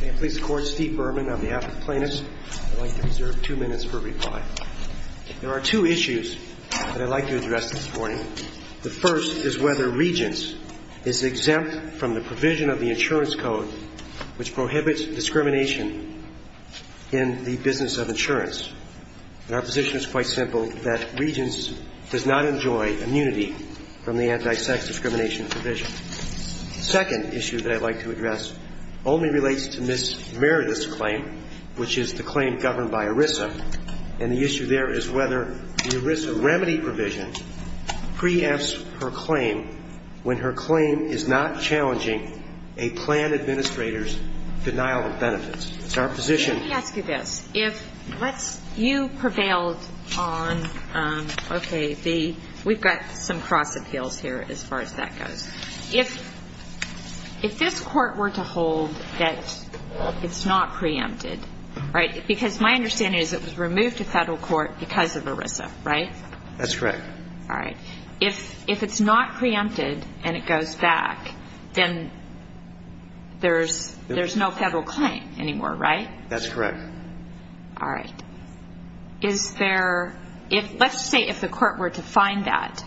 May it please the Court, Steve Berman on behalf of the plaintiffs. I'd like to reserve two minutes for reply. There are two issues that I'd like to address this morning. The first is whether Regence is exempt from the provision of the Insurance Code which prohibits discrimination in the business of insurance. And our position is quite simple, that Regence does not enjoy immunity from the anti-sex discrimination provision. The second issue that I'd like to address only relates to Ms. Meredith's claim, which is the claim governed by ERISA. And the issue there is whether the ERISA remedy provision preempts her claim when her claim is not challenging a plan administrator's denial of benefits. Our position. Let me ask you this. If you prevailed on, okay, we've got some cross appeals here as far as that goes. If this Court were to hold that it's not preempted, right, because my understanding is it was removed to federal court because of ERISA, right? That's correct. All right. If it's not preempted and it goes back, then there's no federal claim anymore, right? That's correct. All right. Is there, let's say if the Court were to find that,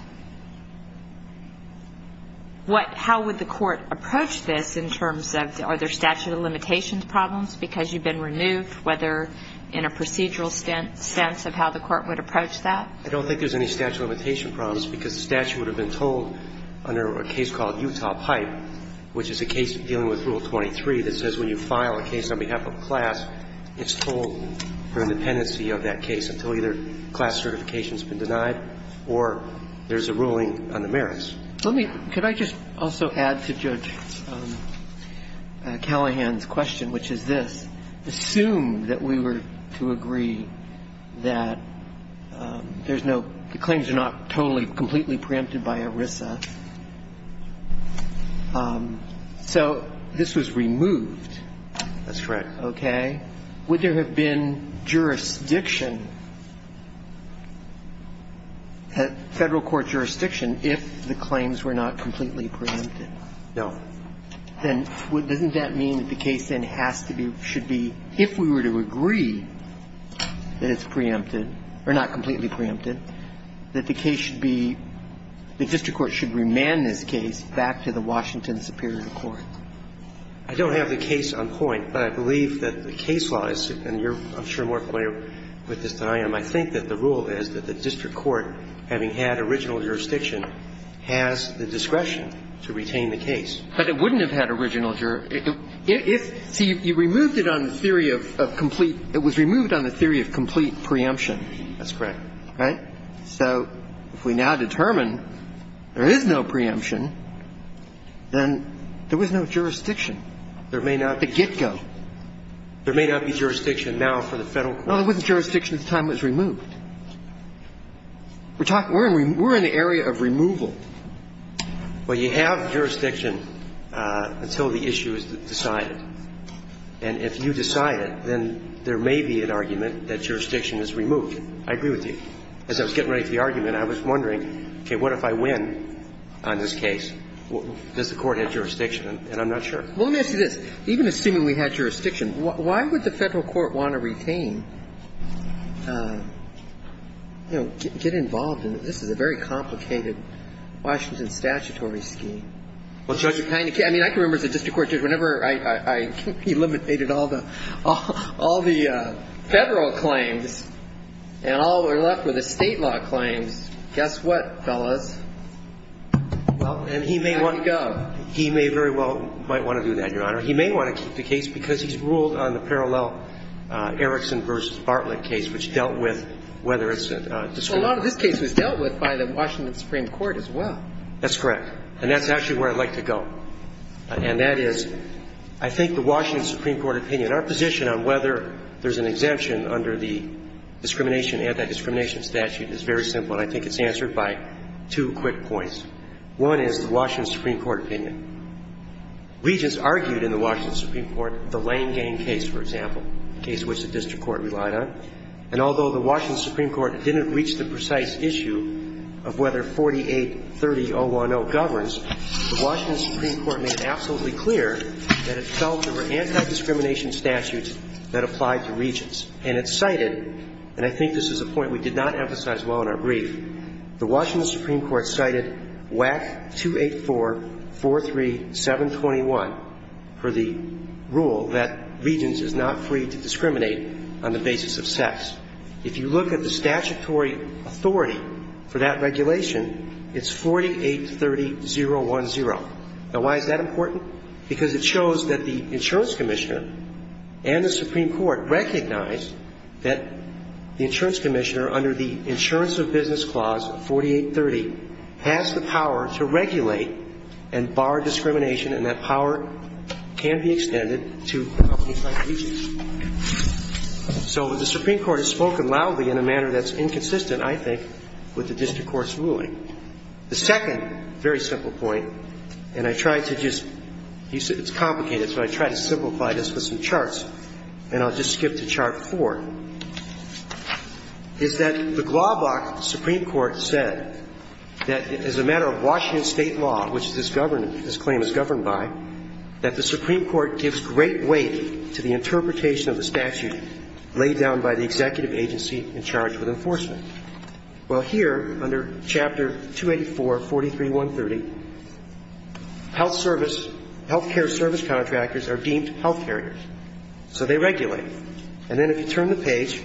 how would the Court approach this in terms of are there statute of limitations problems because you've been removed, whether in a procedural sense of how the Court would approach that? I don't think there's any statute of limitation problems because the statute would have been told under a case called Utah Pipe, which is a case dealing with Rule 23 that says when you file a case on behalf of a class, it's told for independency of that case until either class certification's been denied or there's a ruling on the merits. Let me, could I just also add to Judge Callahan's question, which is this. Assume that we were to agree that there's no, the claims are not totally, completely preempted by ERISA. So this was removed. That's correct. Okay. Would there have been jurisdiction, federal court jurisdiction if the claims were not completely preempted? No. Then doesn't that mean that the case then has to be, should be, if we were to agree that it's preempted, or not completely preempted, that the case should be, the district court should remand this case back to the Washington Superior Court? I don't have the case on point, but I believe that the case law is, and you're I'm sure more familiar with this than I am. I think that the rule is that the district court, having had original jurisdiction, has the discretion to retain the case. But it wouldn't have had original jurisdiction. If, see, you removed it on the theory of complete, it was removed on the theory of complete preemption. That's correct. Right? So if we now determine there is no preemption, then there was no jurisdiction. There may not be. The get-go. There may not be jurisdiction now for the federal court. No, there wasn't jurisdiction at the time it was removed. We're talking, we're in the area of removal. Well, you have jurisdiction until the issue is decided. And if you decide it, then there may be an argument that jurisdiction is removed. I agree with you. As I was getting ready for the argument, I was wondering, okay, what if I win on this case? Does the Court have jurisdiction? And I'm not sure. Well, let me ask you this. Even assuming we had jurisdiction, why would the federal court want to retain, you know, get involved in this? This is a very complicated Washington statutory scheme. Well, Judge, it kind of can. I mean, I can remember as a district court judge, whenever I eliminated all the federal claims and all we're left with is State law claims, guess what, fellas? Well, and he may want to go. He may very well, might want to do that, Your Honor. He may want to keep the case because he's ruled on the parallel Erickson v. Bartlett case, which dealt with whether it's a discrimination. Well, a lot of this case was dealt with by the Washington Supreme Court as well. That's correct. And that's actually where I'd like to go. And that is, I think the Washington Supreme Court opinion, our position on whether there's an exemption under the discrimination, anti-discrimination statute is very simple. And I think it's answered by two quick points. One is the Washington Supreme Court opinion. Regents argued in the Washington Supreme Court the Lane Gang case, for example, a case which the district court relied on. And although the Washington Supreme Court didn't reach the precise issue of whether 4830.010 governs, the Washington Supreme Court made it absolutely clear that it felt there were anti-discrimination statutes that applied to Regents. And it cited, and I think this is a point we did not emphasize well in our brief, the Washington Supreme Court cited WAC 28443721 for the rule that Regents is not free to discriminate on the basis of sex. If you look at the statutory authority for that regulation, it's 4830.010. Now, why is that important? Because it shows that the insurance commissioner and the Supreme Court recognized that the insurance commissioner, under the Insurance of Business Clause of 4830, has the power to regulate and bar discrimination, and that power can be extended to companies like Regents. So the Supreme Court has spoken loudly in a manner that's inconsistent, I think, with the district court's ruling. The second very simple point, and I tried to just, it's complicated, so I tried to simplify it, is that the GLAWBOK Supreme Court said that as a matter of Washington State law, which this claim is governed by, that the Supreme Court gives great weight to the interpretation of the statute laid down by the executive agency in charge of enforcement. Well, here, under Chapter 284, 43.130, health service, health care service contractors are deemed health carriers, so they regulate. And then if you turn the page,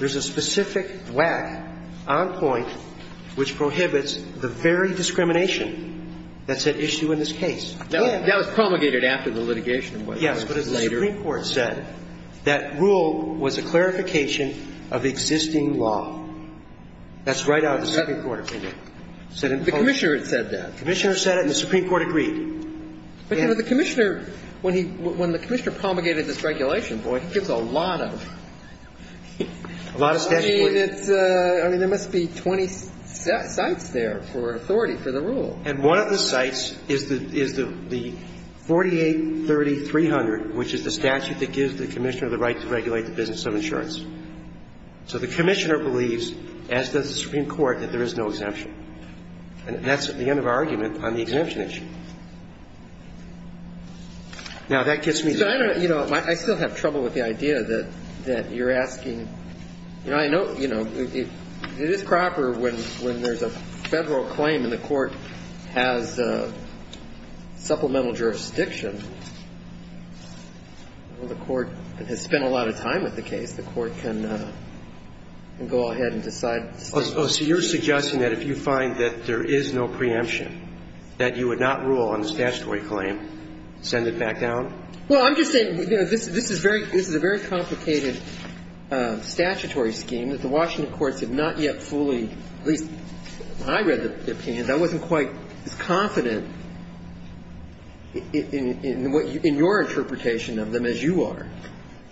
there's a specific whack on point which prohibits the very discrimination that's at issue in this case. That was promulgated after the litigation. Yes. But as the Supreme Court said, that rule was a clarification of existing law. That's right out of the Supreme Court opinion. The commissioner said that. The commissioner said it and the Supreme Court agreed. But, you know, the commissioner, when he, when the commissioner promulgated this regulation, boy, he gives a lot of statute weight. I mean, there must be 20 sites there for authority for the rule. And one of the sites is the 48.30.300, which is the statute that gives the commissioner the right to regulate the business of insurance. So the commissioner believes, as does the Supreme Court, that there is no exemption. And that's the end of our argument on the exemption issue. Now, that gets me to the point. You know, I still have trouble with the idea that you're asking. You know, I know, you know, it is proper when there's a Federal claim and the court has supplemental jurisdiction, the court has spent a lot of time with the case, the court can go ahead and decide. Oh, so you're suggesting that if you find that there is no preemption, that you would not rule on the statutory claim, send it back down? Well, I'm just saying, you know, this is a very complicated statutory scheme that the Washington courts have not yet fully, at least when I read the opinions, I wasn't quite as confident in your interpretation of them as you are.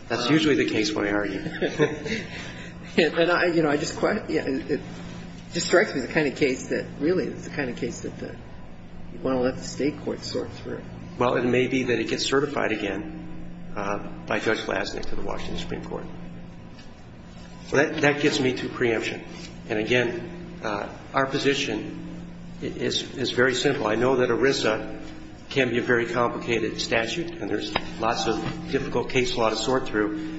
That's usually the case when I argue. And I, you know, I just quite, it just strikes me as the kind of case that really is the kind of case that you want to let the State court sort through. Well, it may be that it gets certified again by Judge Glasnick to the Washington Supreme Court. That gets me to preemption. And, again, our position is very simple. I know that ERISA can be a very complicated statute and there's lots of difficult case law to sort through.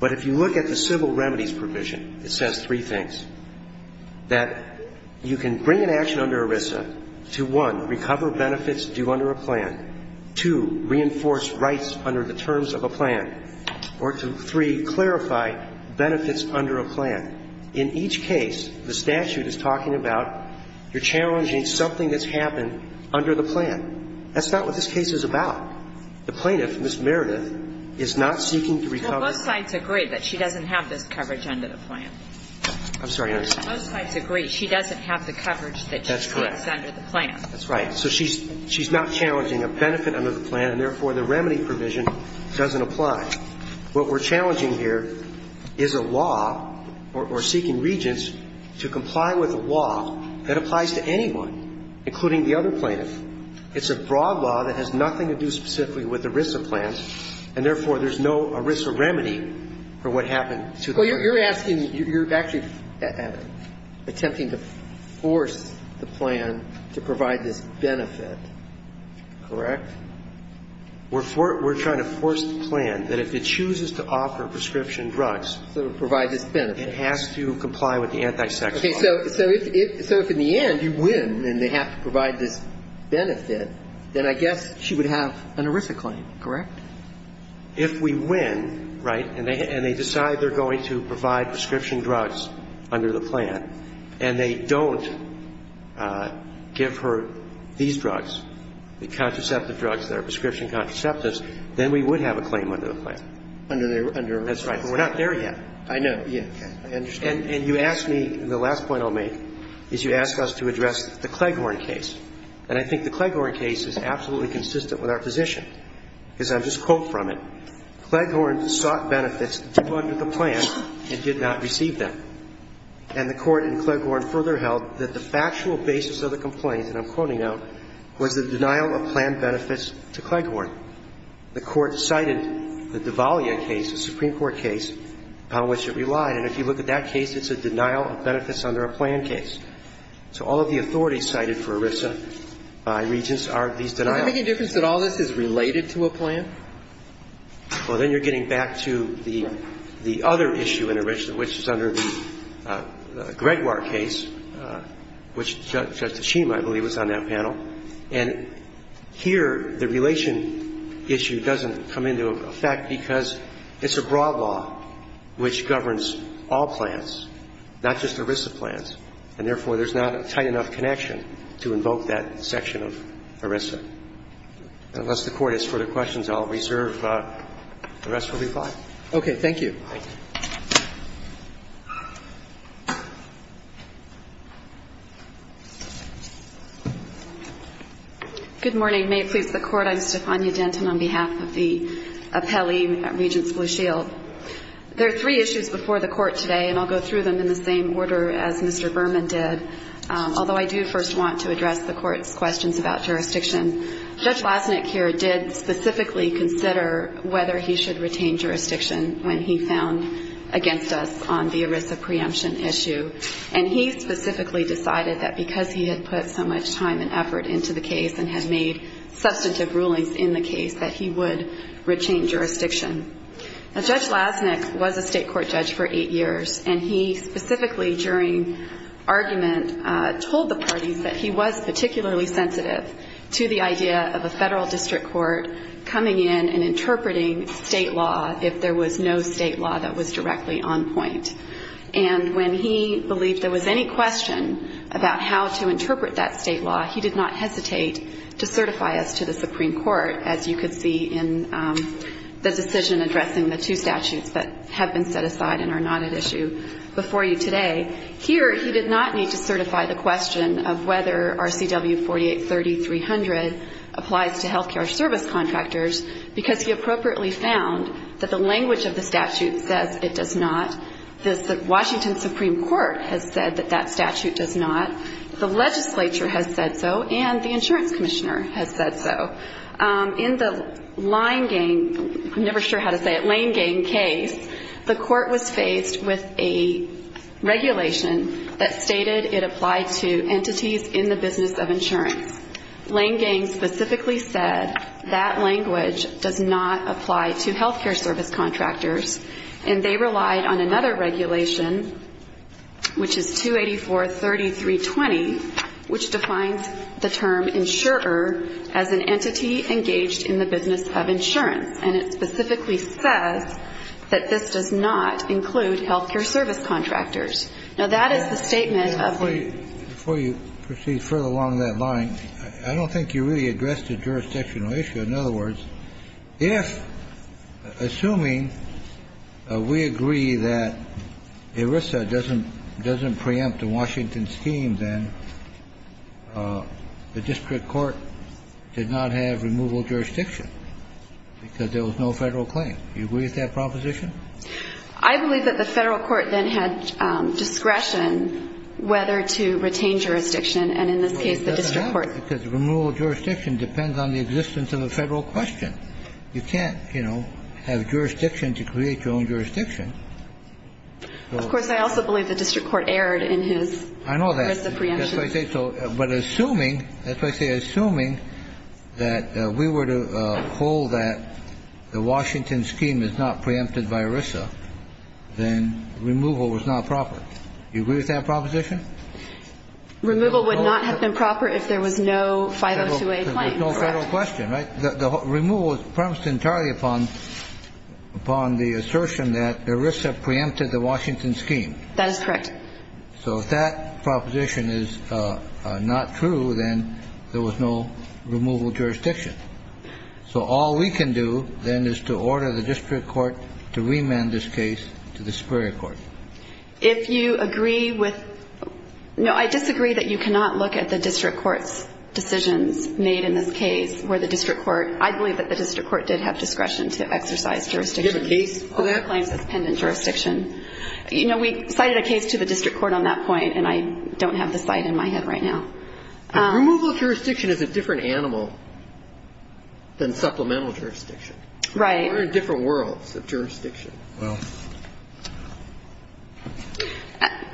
But if you look at the civil remedies provision, it says three things, that you can bring an action under ERISA to, one, recover benefits due under a plan, two, reinforce rights under the terms of a plan, or to, three, clarify benefits under a plan. In each case, the statute is talking about you're challenging something that's happened under the plan. That's not what this case is about. The plaintiff, Ms. Meredith, is not seeking to recover. Well, both sides agree that she doesn't have this coverage under the plan. I'm sorry. Both sides agree she doesn't have the coverage that she seeks under the plan. That's correct. That's right. So she's not challenging a benefit under the plan, and, therefore, the remedy provision doesn't apply. What we're challenging here is a law, or seeking regents to comply with a law that applies to anyone, including the other plaintiff. It's a broad law that has nothing to do specifically with ERISA plans, and, therefore, there's no ERISA remedy for what happened to the plaintiff. Well, you're asking, you're actually attempting to force the plan to provide this benefit, correct? We're trying to force the plan that if it chooses to offer prescription drugs, it has to comply with the anti-sex law. Okay. So if, in the end, you win and they have to provide this benefit, then I guess she would have an ERISA claim, correct? If we win, right, and they decide they're going to provide prescription drugs under the plan, and they don't give her these drugs, the contraceptive drugs that are prescription contraceptives, then we would have a claim under the plan. Under the ERISA plan. That's right. But we're not there yet. I know. Yeah. I understand. And you ask me, and the last point I'll make, is you ask us to address the Cleghorn case, and I think the Cleghorn case is absolutely consistent with our position. Because I'll just quote from it. Cleghorn sought benefits under the plan and did not receive them. And the Court in Cleghorn further held that the factual basis of the complaint, and I'm quoting now, was the denial of plan benefits to Cleghorn. The Court cited the D'Avalia case, the Supreme Court case, on which it relied, and if you look at that case, it's a denial of benefits under a plan case. So all of the authorities cited for ERISA by Regents are these denials. Does that make a difference that all this is related to a plan? Well, then you're getting back to the other issue in ERISA, which is under the Gregoire case, which Justice Schema, I believe, was on that panel. And here the relation issue doesn't come into effect because it's a broad law which governs all plans, not just ERISA plans. And therefore, there's not a tight enough connection to invoke that section of ERISA. Unless the Court has further questions, I'll reserve the rest for reply. Okay. Thank you. Thank you. Good morning. May it please the Court. I'm Stefania Denton on behalf of the appellee, Regents Blue Shield. There are three issues before the Court today, and I'll go through them in the same order as Mr. Berman did. Although I do first want to address the Court's questions about jurisdiction, Judge Lasnik here did specifically consider whether he should retain jurisdiction when he found against us on the ERISA preemption issue. And he specifically decided that because he had put so much time and effort into the case and had made substantive rulings in the case, that he would retain jurisdiction. Now, Judge Lasnik was a state court judge for eight years, and he specifically during argument told the parties that he was particularly sensitive to the idea of a federal district court coming in and interpreting state law if there was no state law that was directly on point. And when he believed there was any question about how to interpret that state law, he did not hesitate to certify us to the Supreme Court, as you could see in the decision addressing the two statutes that have been set aside and are not at issue before you today. Here he did not need to certify the question of whether RCW 4830-300 applies to health care service contractors, because he appropriately found that the language of the statute says it does not. The Washington Supreme Court has said that that statute does not. The legislature has said so, and the insurance commissioner has said so. In the Lane Gang case, I'm never sure how to say it, Lane Gang case, the court was faced with a regulation that stated it applied to entities in the business of insurance. Lane Gang specifically said that language does not apply to health care service contractors, and they relied on another regulation, which is 284-3320, which defines the term insurer as an entity engaged in the business of insurance. And it specifically says that this does not include health care service contractors. Now, that is the statement of the ---- Kennedy. Before you proceed further along that line, I don't think you really addressed a jurisdictional issue. In other words, if, assuming we agree that ERISA doesn't preempt the Washington scheme, then the district court did not have removal jurisdiction because there was no Federal claim. Do you agree with that proposition? I believe that the Federal court then had discretion whether to retain jurisdiction, and in this case the district court ---- Because removal jurisdiction depends on the existence of a Federal question. You can't, you know, have jurisdiction to create your own jurisdiction. Of course, I also believe the district court erred in his ERISA preemption. I know that. That's why I say so. But assuming, that's why I say assuming that we were to hold that the Washington scheme is not preempted by ERISA, then removal was not proper. Do you agree with that proposition? Removal would not have been proper if there was no 502A claim. There was no Federal question, right? The removal was premised entirely upon the assertion that ERISA preempted the Washington scheme. That is correct. So if that proposition is not true, then there was no removal jurisdiction. So all we can do, then, is to order the district court to remand this case to the Superior court. If you agree with, no, I disagree that you cannot look at the district court's decisions made in this case where the district court, I believe that the district court did have discretion to exercise jurisdiction. Do you have a case on that? The claim is pending jurisdiction. You know, we cited a case to the district court on that point, and I don't have the site in my head right now. Removal of jurisdiction is a different animal than supplemental jurisdiction. Right. We're in different worlds of jurisdiction. Well,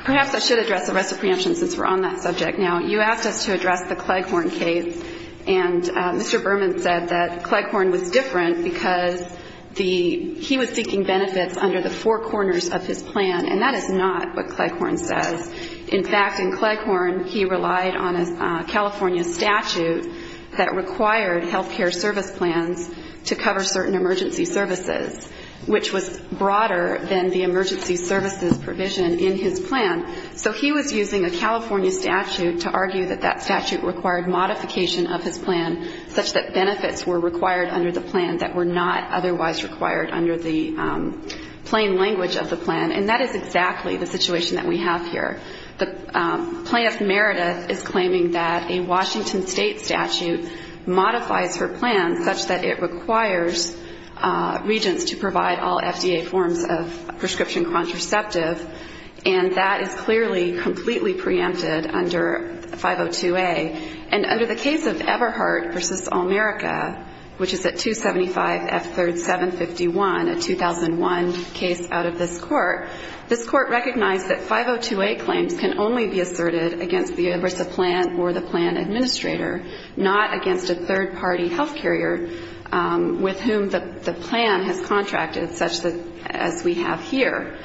perhaps I should address the rest of preemptions since we're on that subject. Now, you asked us to address the Cleghorn case, and Mr. Berman said that Cleghorn was different because he was seeking benefits under the four corners of his plan, and that is not what Cleghorn says. In fact, in Cleghorn, he relied on a California statute that required health care service plans to cover certain emergency services, which was broader than the emergency services provision in his plan. So he was using a California statute to argue that that statute required modification of his plan such that benefits were required under the plan that were not otherwise required under the plain language of the plan. And that is exactly the situation that we have here. Plaintiff Meredith is claiming that a Washington State statute modifies her plan such that it requires regents to provide all FDA forms of prescription contraceptive, and that is clearly completely preempted under 502A. And under the case of Everhart v. All America, which is at 275F3751, a 2001 case out of this court, this court recognized that 502A claims can only be asserted against the EBRSA plan or the plan administrator, not against a third-party health carrier with whom the plan has contracted, such as we have here.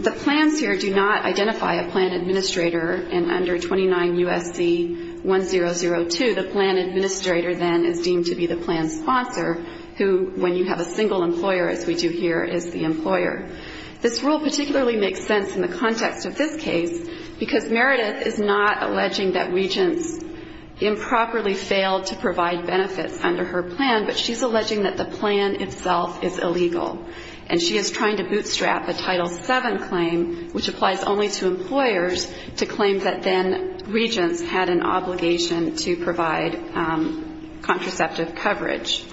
The plans here do not identify a plan administrator. And under 29 U.S.C. 1002, the plan administrator then is deemed to be the plan sponsor, who, when you have a single employer, as we do here, is the employer. This rule particularly makes sense in the context of this case because Meredith is not alleging that regents improperly failed to provide benefits under her plan, but she's alleging that the plan itself is illegal. And she is trying to bootstrap a Title VII claim, which applies only to employers, to claim that then regents had an obligation to provide contraceptive coverage.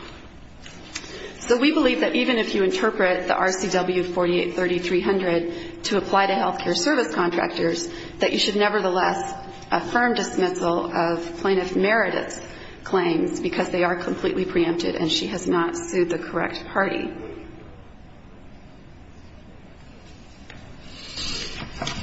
So we believe that even if you interpret the RCW 483300 to apply to health care service contractors, that you should nevertheless affirm dismissal of plaintiff Meredith's claims because they are completely preempted and she has not sued the correct party.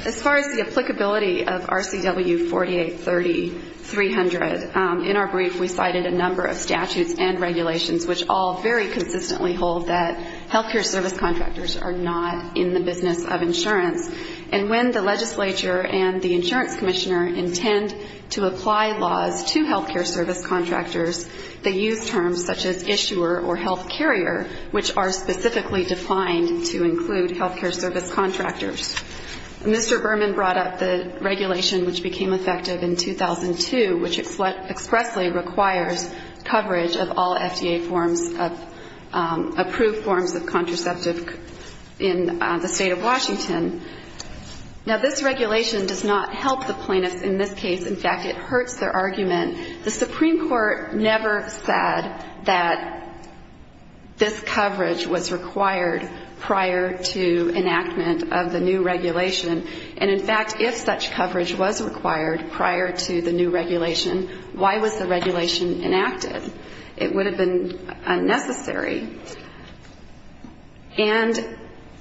As far as the applicability of RCW 483300, in our brief we cited a number of statutes and regulations which all very consistently hold that health care service contractors are not in the business of insurance. And when the legislature and the insurance commissioner intend to apply laws to health care service contractors, they use terms such as issuer or health carrier, which are specifically defined to include health care service contractors. Mr. Berman brought up the regulation which became effective in 2002, which expressly requires coverage of all FDA forms of approved forms of contraceptive in the state of Washington. Now, this regulation does not help the plaintiffs in this case. In fact, it hurts their argument. The Supreme Court never said that this coverage was required prior to enactment of the new regulation. And, in fact, if such coverage was required prior to the new regulation, why was the regulation enacted? It would have been unnecessary. And,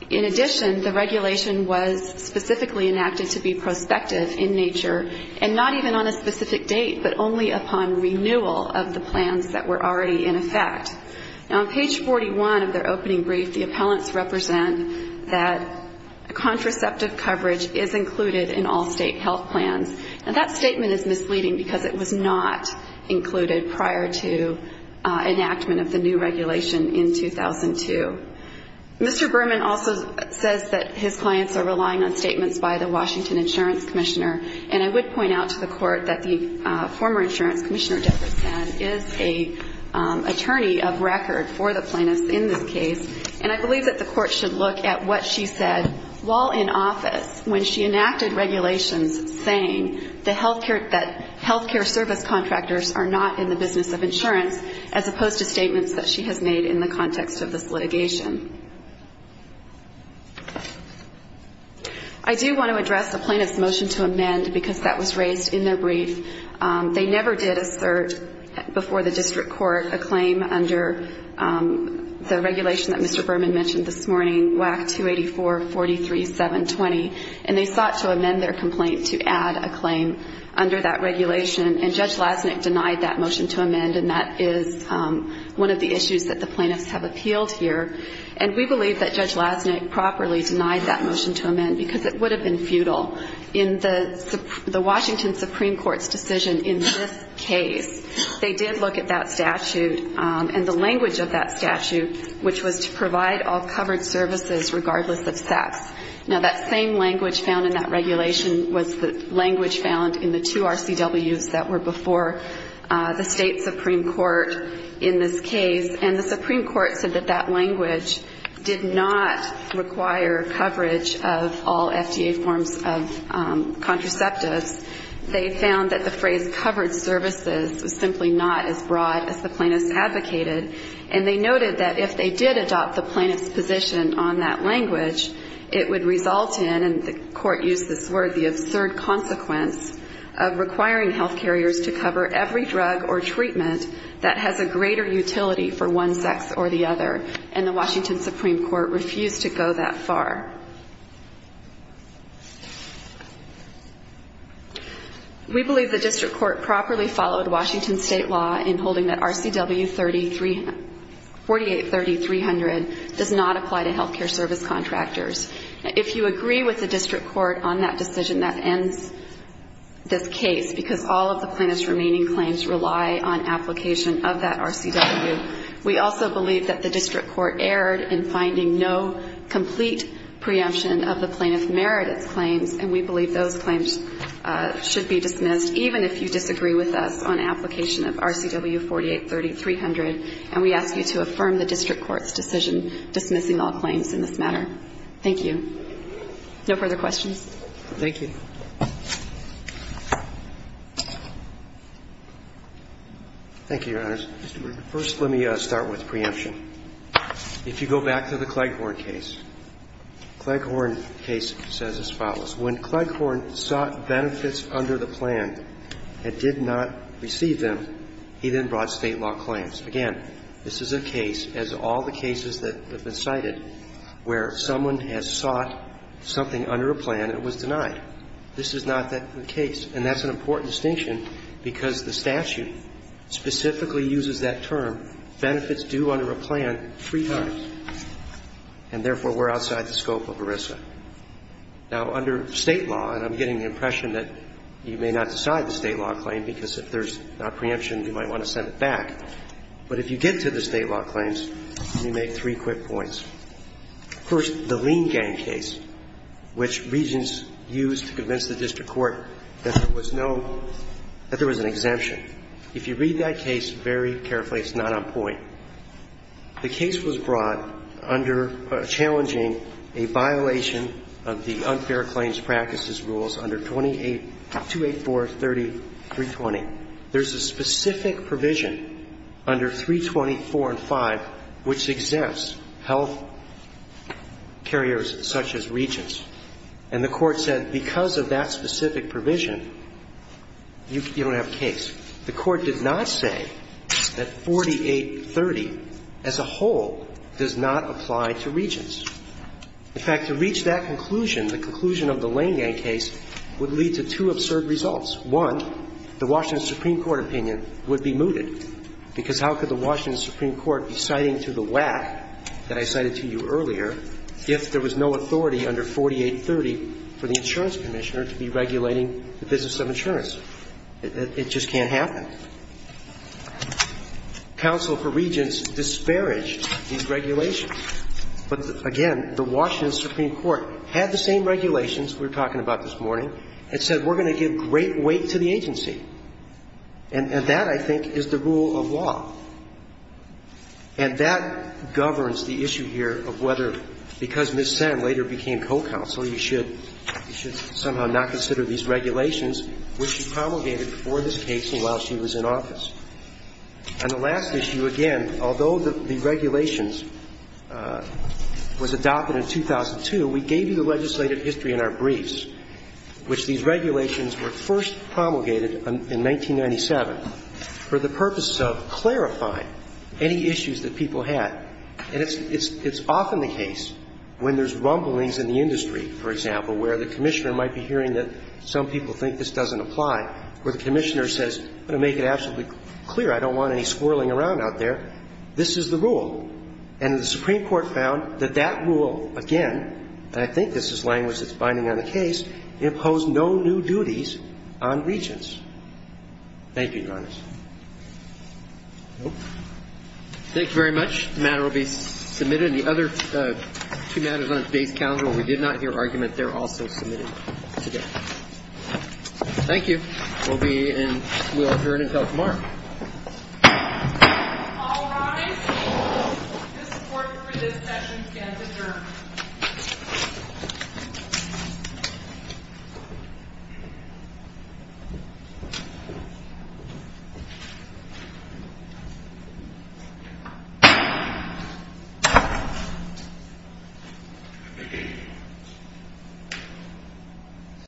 in addition, the regulation was specifically enacted to be prospective in nature and not even on a specific date, but only upon renewal of the plans that were already in effect. Now, on page 41 of their opening brief, the appellants represent that contraceptive coverage is included in all state health plans. And that statement is misleading because it was not included prior to enactment of the new regulation in 2002. Mr. Berman also says that his clients are relying on statements by the Washington Insurance Commissioner. And I would point out to the Court that the former insurance commissioner, Debra Saad, is an attorney of record for the plaintiffs in this case. And I believe that the Court should look at what she said while in office when she enacted regulations saying that health care service contractors are not in the business of insurance, as opposed to statements that she has made in the context of this litigation. I do want to address the plaintiff's motion to amend because that was raised in their brief. They never did assert before the district court a claim under the regulation that Mr. Berman mentioned this morning, WAC 284-43-720, and they sought to amend their complaint to add a claim under that regulation. And Judge Lasnik denied that motion to amend, and that is one of the issues that the plaintiffs have appealed here. And we believe that Judge Lasnik properly denied that motion to amend because it would have been futile. In the Washington Supreme Court's decision in this case, they did look at that statute and the language of that statute, which was to provide all covered services regardless of sex. Now, that same language found in that regulation was the language found in the two RCWs that were before the State Supreme Court in this case, and the Supreme Court said that that language did not require coverage of all FDA forms of contraceptives. They found that the phrase covered services was simply not as broad as the plaintiffs advocated, and they noted that if they did adopt the plaintiffs' position on that language, it would result in, and the court used this word, the absurd consequence of requiring health carriers to cover every drug or treatment that has a greater utility for one sex or the other, and the Washington Supreme Court refused to go that far. We believe the district court properly followed Washington State law in holding that RCW 4830-300 does not apply to health care service contractors. If you agree with the district court on that decision, that ends this case, because all of the plaintiffs' remaining claims rely on application of that RCW. We also believe that the district court erred in finding no complete preemption of the plaintiff merited claims, and we believe those claims should be dismissed even if you disagree with us on application of RCW 4830-300, and we ask you to affirm the district court's decision dismissing all claims in this matter. Thank you. No further questions? Thank you. Thank you, Your Honors. First, let me start with preemption. If you go back to the Cleghorn case, Cleghorn case says as follows. When Cleghorn sought benefits under the plan and did not receive them, he then brought State law claims. Again, this is a case, as all the cases that have been cited, where someone has sought something under a plan and it was denied. This is not the case, and that's an important distinction because the statute specifically uses that term, benefits due under a plan, three times. And therefore, we're outside the scope of ERISA. Now, under State law, and I'm getting the impression that you may not decide the State law claim because if there's not preemption, you might want to send it back, but if you get to the State law claims, let me make three quick points. First, the Lean Gang case, which Regents used to convince the district court that there was an exemption. If you read that case very carefully, it's not on point. The case was brought under challenging a violation of the unfair claims practices rules under 284.30.320. There's a specific provision under 320.4 and 5 which exempts health carriers such as Regents. And the Court said because of that specific provision, you don't have a case. The Court did not say that 48.30 as a whole does not apply to Regents. In fact, to reach that conclusion, the conclusion of the Lean Gang case would lead to two absurd results. One, the Washington Supreme Court opinion would be mooted, because how could the Washington Supreme Court be citing to the WAC that I cited to you earlier if there was no authority under 48.30 for the insurance commissioner to be regulating the business of insurance? It just can't happen. Counsel for Regents disparaged these regulations. But again, the Washington Supreme Court had the same regulations we were talking about this morning and said we're going to give great weight to the agency. And that, I think, is the rule of law. And that governs the issue here of whether, because Ms. Sen later became co-counsel, you should somehow not consider these regulations which she promulgated for this case and while she was in office. And the last issue, again, although the regulations was adopted in 2002, we gave you the legislative history in our briefs, which these regulations were first promulgated in 1997 for the purpose of clarifying any issues that people had. And it's often the case when there's rumblings in the industry, for example, where the commissioner might be hearing that some people think this doesn't apply, where the commissioner says, I'm going to make it absolutely clear, I don't want any squirreling around out there, this is the rule. And the Supreme Court found that that rule, again, and I think this is language that's binding on the case, imposed no new duties on regents. Thank you, Your Honor. Thank you very much. The matter will be submitted. And the other two matters on today's calendar where we did not hear argument, they're also submitted today. Thank you. We'll adjourn until tomorrow. All rise. This court for this session can adjourn.